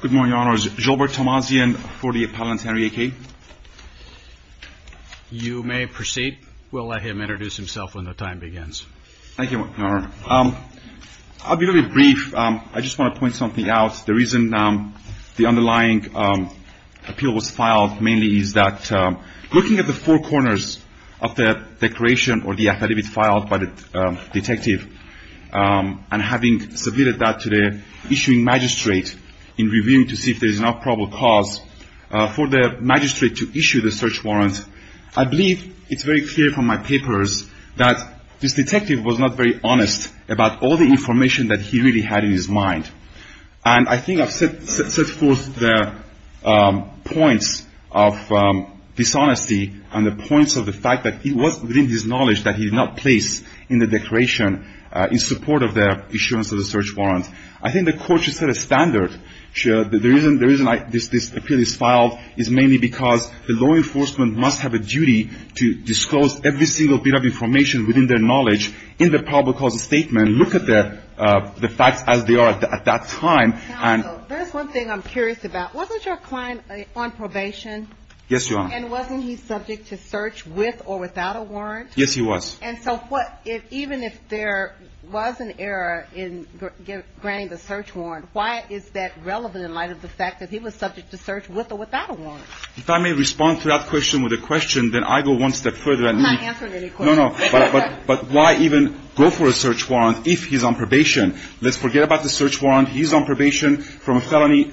Good morning, Your Honors. Gilbert Tomazian for the Appellant Henry EKEH. You may proceed. We'll let him introduce himself when the time begins. Thank you, Your Honor. I'll be really brief. I just want to point something out. The reason the underlying appeal was filed mainly is that looking at the four corners of the declaration or the affidavit filed by the detective, and having submitted that to the issuing magistrate in reviewing to see if there is an up-probable cause for the magistrate to issue the search warrant, I believe it's very clear from my papers that this detective was not very honest about all the information that he really had in his mind. And I think I've set forth the points of dishonesty and the points of the fact that it was within his knowledge that he did not place in the declaration in support of the issuance of the search warrant. I think the court should set a standard. The reason this appeal is filed is mainly because the law enforcement must have a duty to disclose every single bit of information within their the facts as they are at that time. Counsel, there's one thing I'm curious about. Wasn't your client on probation? Yes, Your Honor. And wasn't he subject to search with or without a warrant? Yes, he was. And so what — even if there was an error in granting the search warrant, why is that relevant in light of the fact that he was subject to search with or without a warrant? If I may respond to that question with a question, then I go one step further and I'm not answering any questions. No, no, no. But why even go for a search warrant if he's on probation? Let's forget about the search warrant. He's on probation from a felony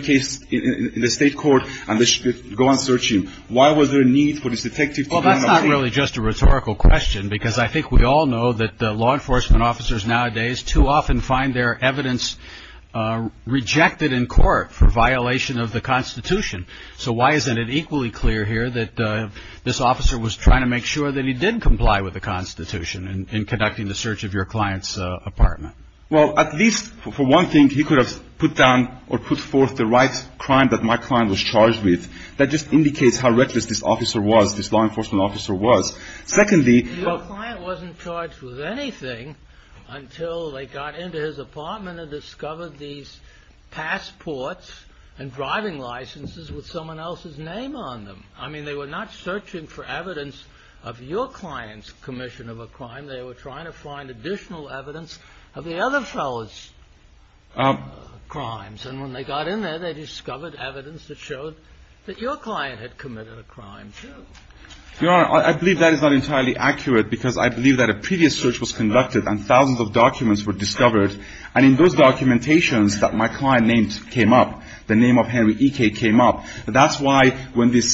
case in the state court and they should go and search him. Why was there a need for this detective to be on probation? Well, that's not really just a rhetorical question because I think we all know that law enforcement officers nowadays too often find their evidence rejected in court for violation of the Constitution. So why isn't it equally clear here that this officer was trying to make sure that he did comply with the Constitution in conducting the search of your client's apartment? Well, at least for one thing, he could have put down or put forth the right crime that my client was charged with. That just indicates how reckless this officer was, this law enforcement officer was. Secondly — Your client wasn't charged with anything until they got into his apartment and discovered these passports and driving licenses with someone else's name on them. I mean, they were not searching for evidence of your client's commission of a crime. They were trying to find additional evidence of the other fellow's crimes. And when they got in there, they discovered evidence that showed that your client had committed a crime too. Your Honor, I believe that is not entirely accurate because I believe that a previous search was conducted and thousands of documents were discovered. And in those documentations that my client named came up, the name of Henry E. K. came up. That's why when this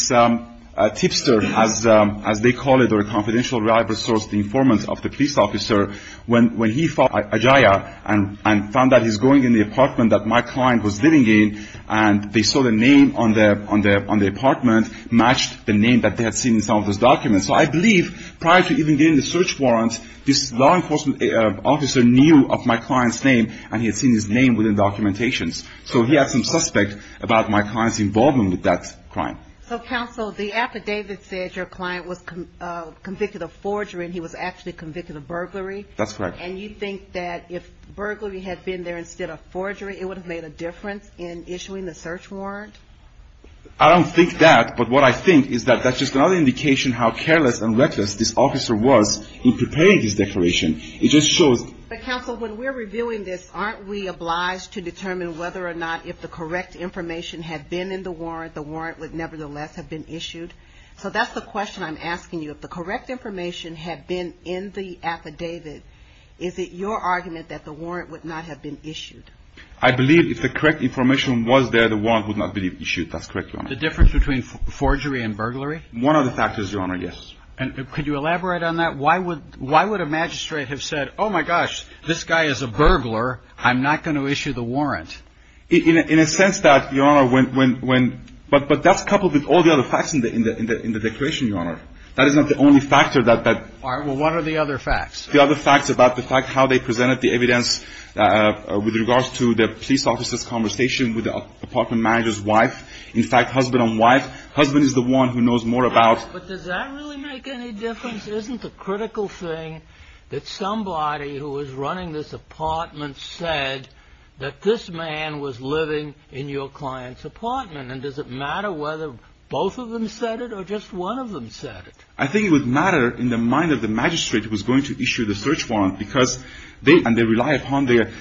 tipster, as they call it, or a confidential rival source, the informant of the police officer, when he found that he's going in the apartment that my client was living in and they saw the name on the apartment matched the name that they had seen in some of those documents. So I believe prior to even getting the search warrant, this law enforcement officer knew of my client's name and he had seen his name within documentations. So he had some suspect about my client's involvement with that crime. So, counsel, the affidavit said your client was convicted of forgery and he was actually convicted of burglary. That's correct. And you think that if burglary had been there instead of forgery, it would have made a difference in issuing the search warrant? I don't think that. But what I think is that that's just another indication how careless and reckless this officer was in preparing this declaration. It just shows But, counsel, when we're reviewing this, aren't we obliged to determine whether or not if the correct information had been in the warrant, the warrant would nevertheless have been issued? So that's the question I'm asking you. If the correct information had been in the affidavit, is it your argument that the warrant would not have been issued? I believe if the correct information was there, the warrant would not have been issued. That's correct, Your Honor. The difference between forgery and burglary? One of the factors, Your Honor, yes. And could you elaborate on that? Why would a magistrate have said, oh, my gosh, this guy is a burglar. I'm not going to issue the warrant. In a sense that, Your Honor, when – but that's coupled with all the other facts in the declaration, Your Honor. That is not the only factor that All right. Well, what are the other facts? The other facts about the fact how they presented the evidence with regards to the police officer's conversation with the apartment manager's wife. In fact, husband and wife. Husband is the one who knows more about But does that really make any difference? Isn't the critical thing that somebody who was running this apartment said that this man was living in your client's apartment? And does it matter whether both of them said it or just one of them said it? I think it would matter in the mind of the magistrate who was going to issue the search warrant because they – and they rely upon their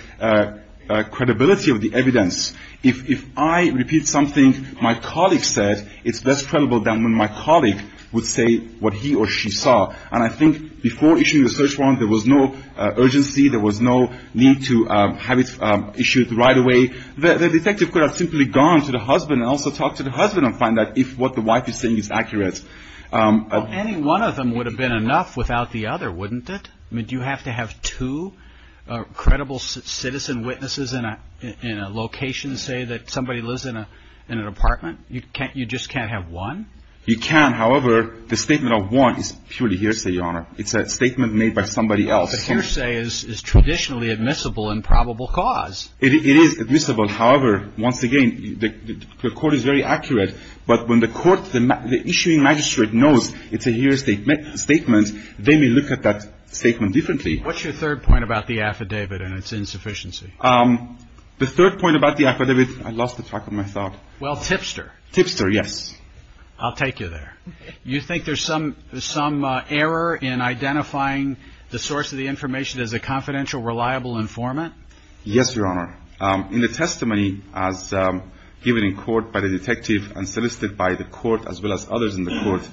credibility of the evidence. If I repeat something my colleague said, it's best credible than when my colleague would say what he or she saw. And I think before issuing the search warrant, there was no urgency. There was no need to have it issued right away. The detective could have simply gone to the husband and also talked to the husband and find out if what the wife is saying is accurate. Well, any one of them would have been enough without the other, wouldn't it? I mean, do you have to have two credible citizen witnesses in a location say that somebody lives in a apartment? You can't – you just can't have one? You can. However, the statement of one is purely hearsay, Your Honor. It's a statement made by somebody else. Well, the hearsay is traditionally admissible in probable cause. It is admissible. However, once again, the court is very accurate. But when the court – the issuing magistrate knows it's a hearsay statement, they may look at that statement differently. What's your third point about the affidavit and its insufficiency? The third point about the affidavit – I lost track of my thought. Well, Tipster. Tipster, yes. I'll take you there. You think there's some error in identifying the source of the information as a confidential, reliable informant? Yes, Your Honor. In the testimony as given in court by the detective and solicited by the court as well as others in the court,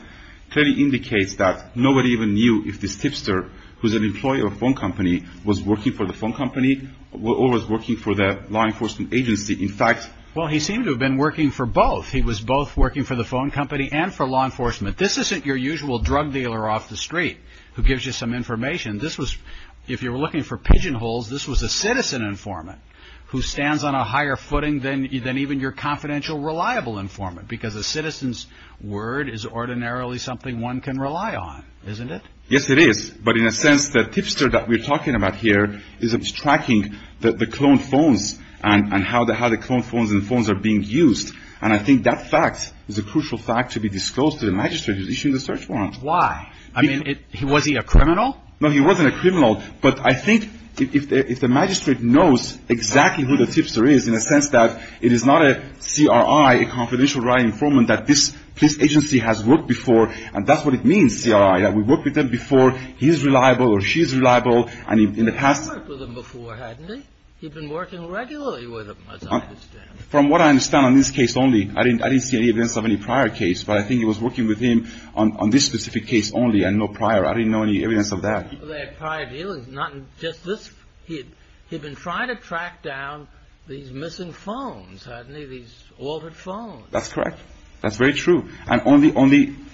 clearly indicates that nobody even knew if this Tipster, who's an employee of a phone company, was working for the phone company or was working for the law enforcement agency. In fact – Well, he seemed to have been working for both. He was both working for the phone company and for law enforcement. This isn't your usual drug dealer off the street who gives you some information. This was – if you were looking for pigeonholes, this was a citizen informant who stands on a higher footing than even your confidential, reliable informant because a citizen's word is ordinarily something one can rely on, isn't it? Yes, it is. But in a sense, the Tipster that we're talking about here is tracking the cloned phones and how the cloned phones and phones are being used. And I think that fact is a crucial fact to be disclosed to the magistrate who's issuing the search warrant. Why? I mean, was he a criminal? No, he wasn't a criminal. But I think if the magistrate knows exactly who the Tipster is in a sense that it is not a CRI, a confidential, reliable informant that this police agency has worked before, and that's what it means, CRI, that we've worked with them before, he's reliable or she's reliable, and in the past – He worked with them before, hadn't he? He'd been working regularly with them, as I understand. From what I understand on this case only, I didn't see any evidence of any prior case, but I think he was working with him on this specific case only and no prior. I didn't know any evidence of that. Well, they had prior dealings, not just this. He'd been trying to track down these missing phones, hadn't he, these altered phones. That's correct. That's very true. And only –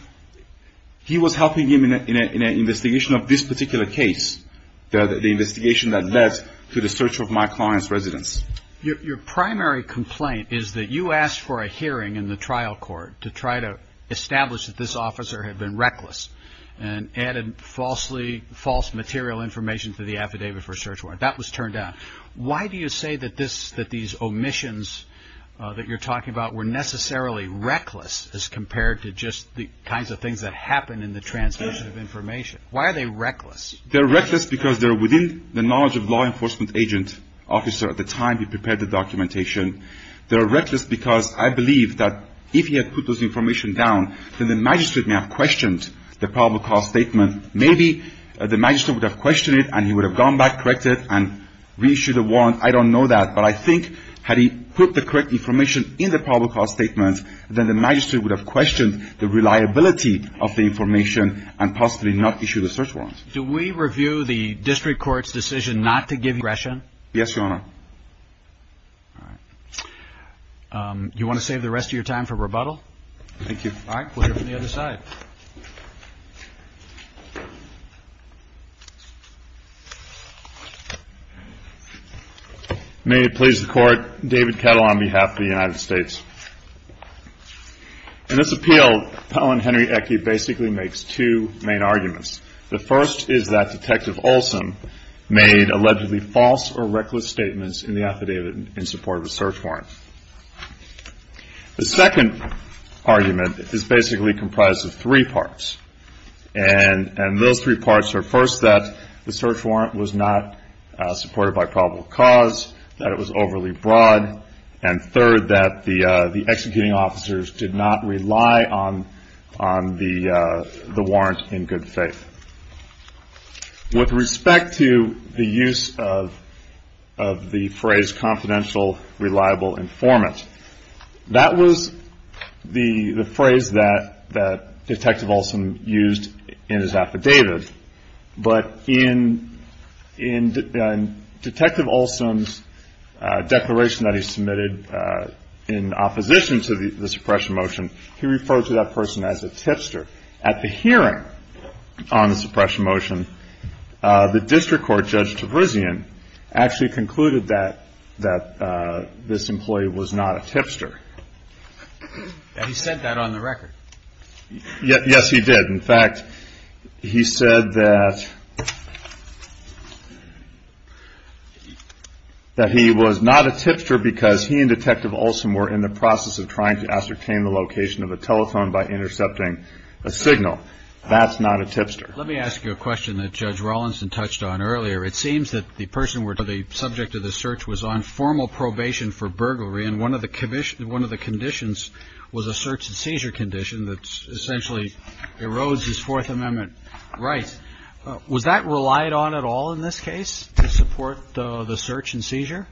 he was helping him in an investigation of this particular case, the investigation that led to the search of my client's residence. Your primary complaint is that you asked for a hearing in the trial court to try to establish that this officer had been reckless and added falsely – false material information to the affidavit for search warrant. That was turned down. Why do you say that this – that what you're talking about were necessarily reckless as compared to just the kinds of things that happen in the transmission of information? Why are they reckless? They're reckless because they're within the knowledge of law enforcement agent officer at the time he prepared the documentation. They're reckless because I believe that if he had put those information down, then the magistrate may have questioned the probable cause statement. Maybe the magistrate would have questioned it, and he would have gone back, corrected, and reissued a warrant. I don't know that, but I think had he put the correct information in the probable cause statement, then the magistrate would have questioned the reliability of the information and possibly not issued a search warrant. Do we review the district court's decision not to give aggression? Yes, Your Honor. All right. Do you want to save the rest of your time for rebuttal? Thank you. All right. We'll hear from the other side. May it please the Court, David Kettle on behalf of the United States. In this appeal, Appellant Henry Ecke basically makes two main arguments. The first is that Detective Olson made allegedly false or reckless statements in the affidavit in support of a search warrant. The second argument is basically comprised of three parts, and those three parts are first that the search warrant was not supported by probable cause, that it was overly broad, and third, that the executing officers did not rely on the warrant in good faith. With respect to the use of the phrase confidential, reliable informant, that was the phrase that Detective Olson used in his affidavit, but in Detective Olson's declaration that he submitted in opposition to the suppression motion, he referred to that person as a tipster. At the suppression motion, the district court, Judge Tavrizian, actually concluded that this employee was not a tipster. He said that on the record. Yes, he did. In fact, he said that he was not a tipster because he and Detective Olson were in the process of trying to ascertain the location of a telephone by intercepting a signal. That's not a tipster. Let me ask you a question that Judge Rawlinson touched on earlier. It seems that the person where the subject of the search was on formal probation for burglary, and one of the conditions was a search and seizure condition that essentially erodes his Fourth Amendment rights. Was that relied on at all in this case to support the search and seizure?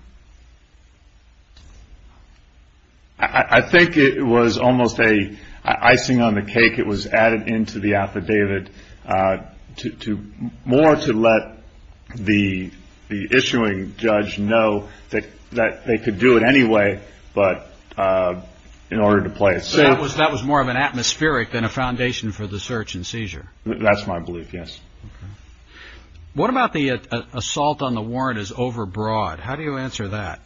I think it was almost an icing on the cake. It was added into the affidavit more to let the issuing judge know that they could do it anyway, but in order to play it safe. That was more of an atmospheric than a foundation for the search and seizure? That's my belief, yes. Okay. What about the assault on the warrant is overbroad? How do you answer that?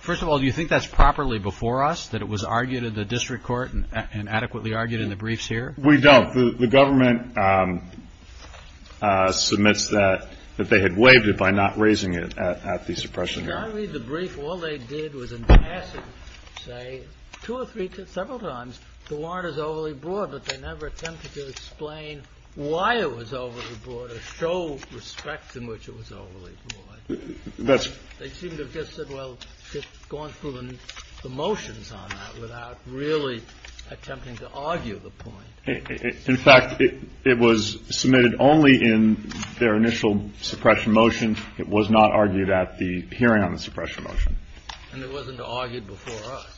First of all, do you think that's properly before us, that it was argued in the district court and adequately argued in the briefs here? We don't. The government submits that they had waived it by not raising it at the suppression hearing. Can I read the brief? All they did was in passing say two or three, several times the And it wasn't argued before us.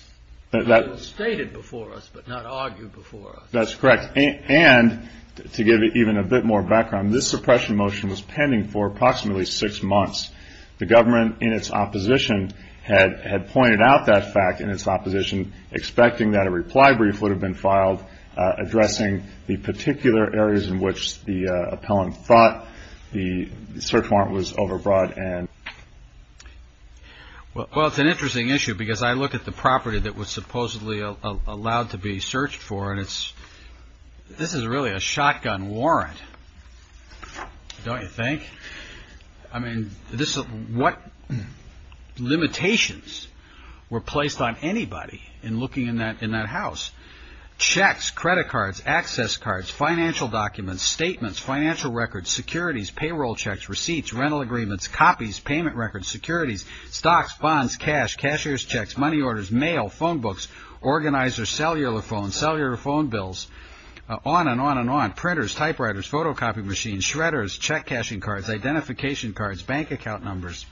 It was stated before us, but not argued before us. That's correct. And to give it even a bit more background, this suppression motion was pending for approximately six months. The government in its opposition had pointed out that fact in its opposition, expecting that a reply brief would have been filed addressing the particular areas in which the appellant thought the search warrant was overbroad and Well, it's an interesting issue because I look at the property that was supposedly allowed to be searched for and this is really a shotgun warrant, don't you think? I mean, what limitations were placed on anybody in looking in that house? Checks, credit cards, access cards, financial documents, statements, financial records, securities, payroll checks, receipts, rental agreements, copies, payment records, securities, stocks, bonds, cash, cashier's checks, money orders, mail, phone books, organizers, cellular phone, cellular phone bills, on and on and on, printers, typewriters, photocopy machines, shredders, check cashing cards, identification cards, bank account numbers.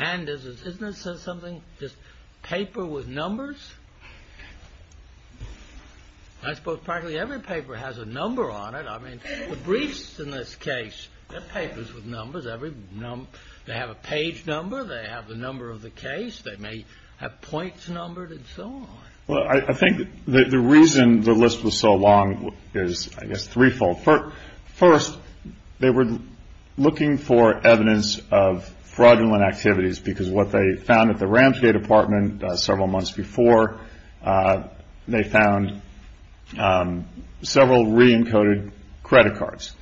And isn't this something just paper with numbers? I suppose practically every paper has a number on it. I mean, the briefs in this case, they're papers with numbers. They have a page number. They have the number of the case. They may have points numbered and so on. Well, I think the reason the list was so long is, I guess, threefold. First, they were looking for evidence of fraudulent activities because what they found at the Ramsey apartment several months before, they found several re-encoded credit cards.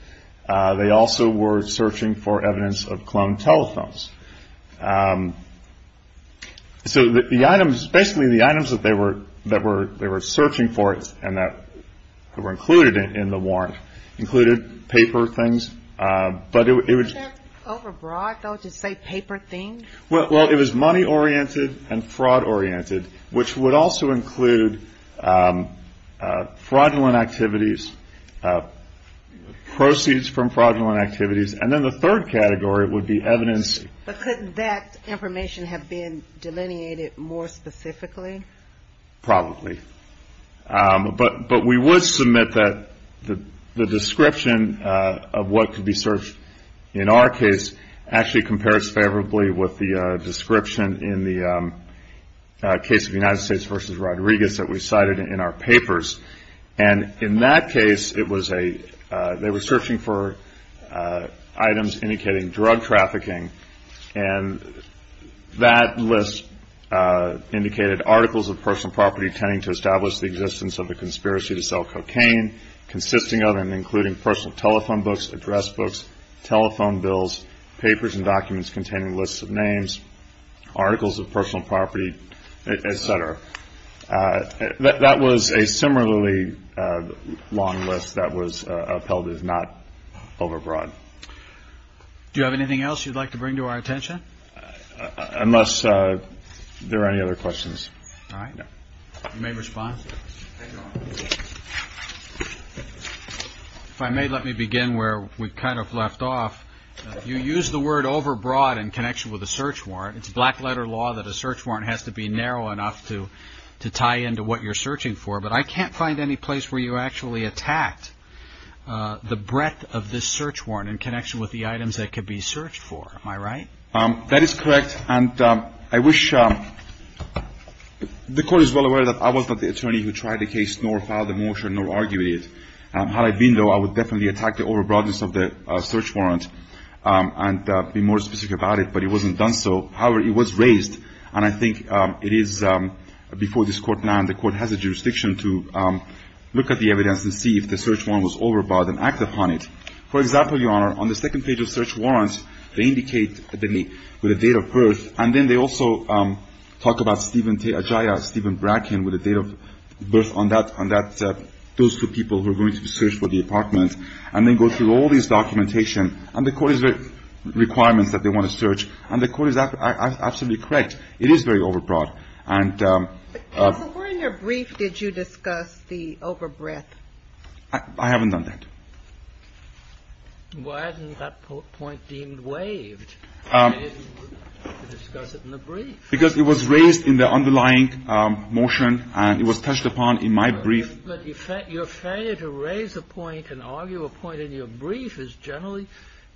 They also were searching for So the items, basically the items that they were searching for and that were included in the warrant included paper things, but it was Was that overbroad, though, to say paper things? Well, it was money-oriented and fraud-oriented, which would also include fraudulent activities, proceeds from fraudulent activities. And then the third category would be evidence But couldn't that information have been delineated more specifically? Probably. But we would submit that the description of what could be searched in our case actually compares favorably with the description in the case of the United States v. Rodriguez that we cited in our papers. And in that case, they were searching for items indicating drug trafficking. And that list indicated articles of personal property tending to establish the existence of a conspiracy to sell cocaine consisting of and including personal telephone books, address books, telephone bills, papers and documents containing lists of names, articles of personal property, et cetera. That was a similarly long list that was upheld as not overbroad. Do you have anything else you'd like to bring to our attention? Unless there are any other questions. All right. You may respond. If I may, let me begin where we kind of left off. You use the word overbroad in connection with a search warrant. It's black-letter law that a search warrant has to be narrow enough to tie into what you're searching for. But I can't find any place where you actually attacked the breadth of this search warrant in connection with the items that could be searched for. Am I right? That is correct. And I wish the Court is well aware that I was not the attorney who tried the case nor filed the motion nor argued it. Had I been, though, I would definitely attack the overbroadness of the search warrant and be more specific about it. But it wasn't done so. However, it was raised. And I think it is before this Court now and the Court has a jurisdiction to look at the evidence and see if the search warrant was overbroad and act upon it. For example, Your Honor, on the second page of search warrants, they indicate with a date of birth. And then they also talk about Steven Ajaia, Steven Bracken, with a date of birth on that, those two people who are going to be searched for the apartment. And they go through all this documentation. And the Court has requirements that they want to search. And the Court is absolutely correct. It is very overbroad. And But, Counsel, where in your brief did you discuss the overbreadth? I haven't done that. Why isn't that point deemed waived? Because it was raised in the underlying motion and it was touched upon in my brief. But your failure to raise a point and argue a point in your brief is generally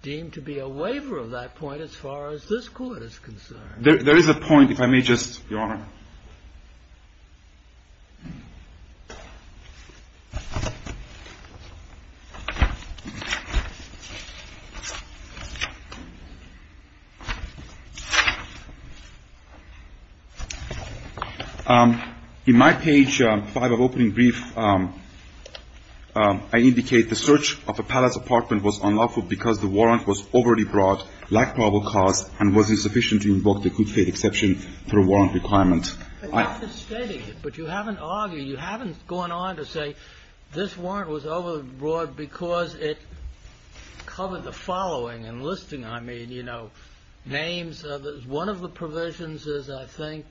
deemed to be a waiver of that point as far as this Court is concerned. There is a point, if I may just, Your Honor. In my page 5 of opening brief, I indicate the search of the Palace apartment was unlawful because the warrant was overly broad, lacked probable cause, and was insufficient to invoke the good faith exception for a warrant requirement. But you haven't argued, you haven't gone on to say this warrant was overbroad because it covered the following, enlisting, I mean, you know, names. One of the provisions is, I think,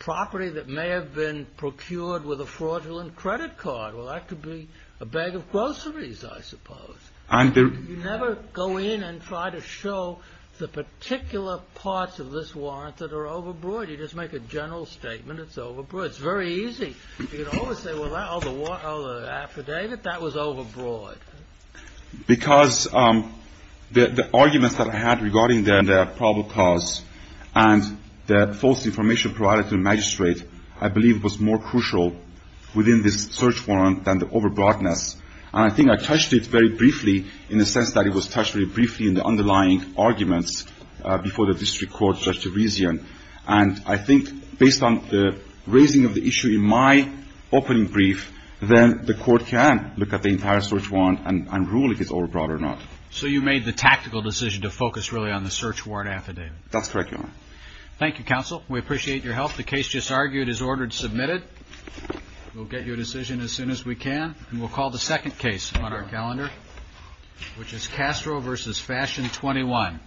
property that may have been procured with a fraudulent credit card. Well, that could be a bag of groceries, I suppose. You never go in and try to show the particular parts of this warrant that are overbroad. You just make a general statement it's overbroad. It's very easy. You can always say, well, that other affidavit, that was overbroad. Because the arguments that I had regarding the probable cause and the false information provided to the magistrate, I believe, was more crucial within this search warrant than the overbroadness. And I think I touched it very briefly in the sense that it was touched very briefly in the underlying arguments before the district court, Judge Teresian. And I think based on the raising of the issue in my opening brief, then the court can look at the entire search warrant and rule if it's overbroad or not. So you made the tactical decision to focus really on the search warrant affidavit. That's correct, Your Honor. Thank you, counsel. We appreciate your help. The case just argued is ordered submitted. We'll get your decision as soon as we can. And we'll call the second case on our calendar, which is Castro v. Fashion 21.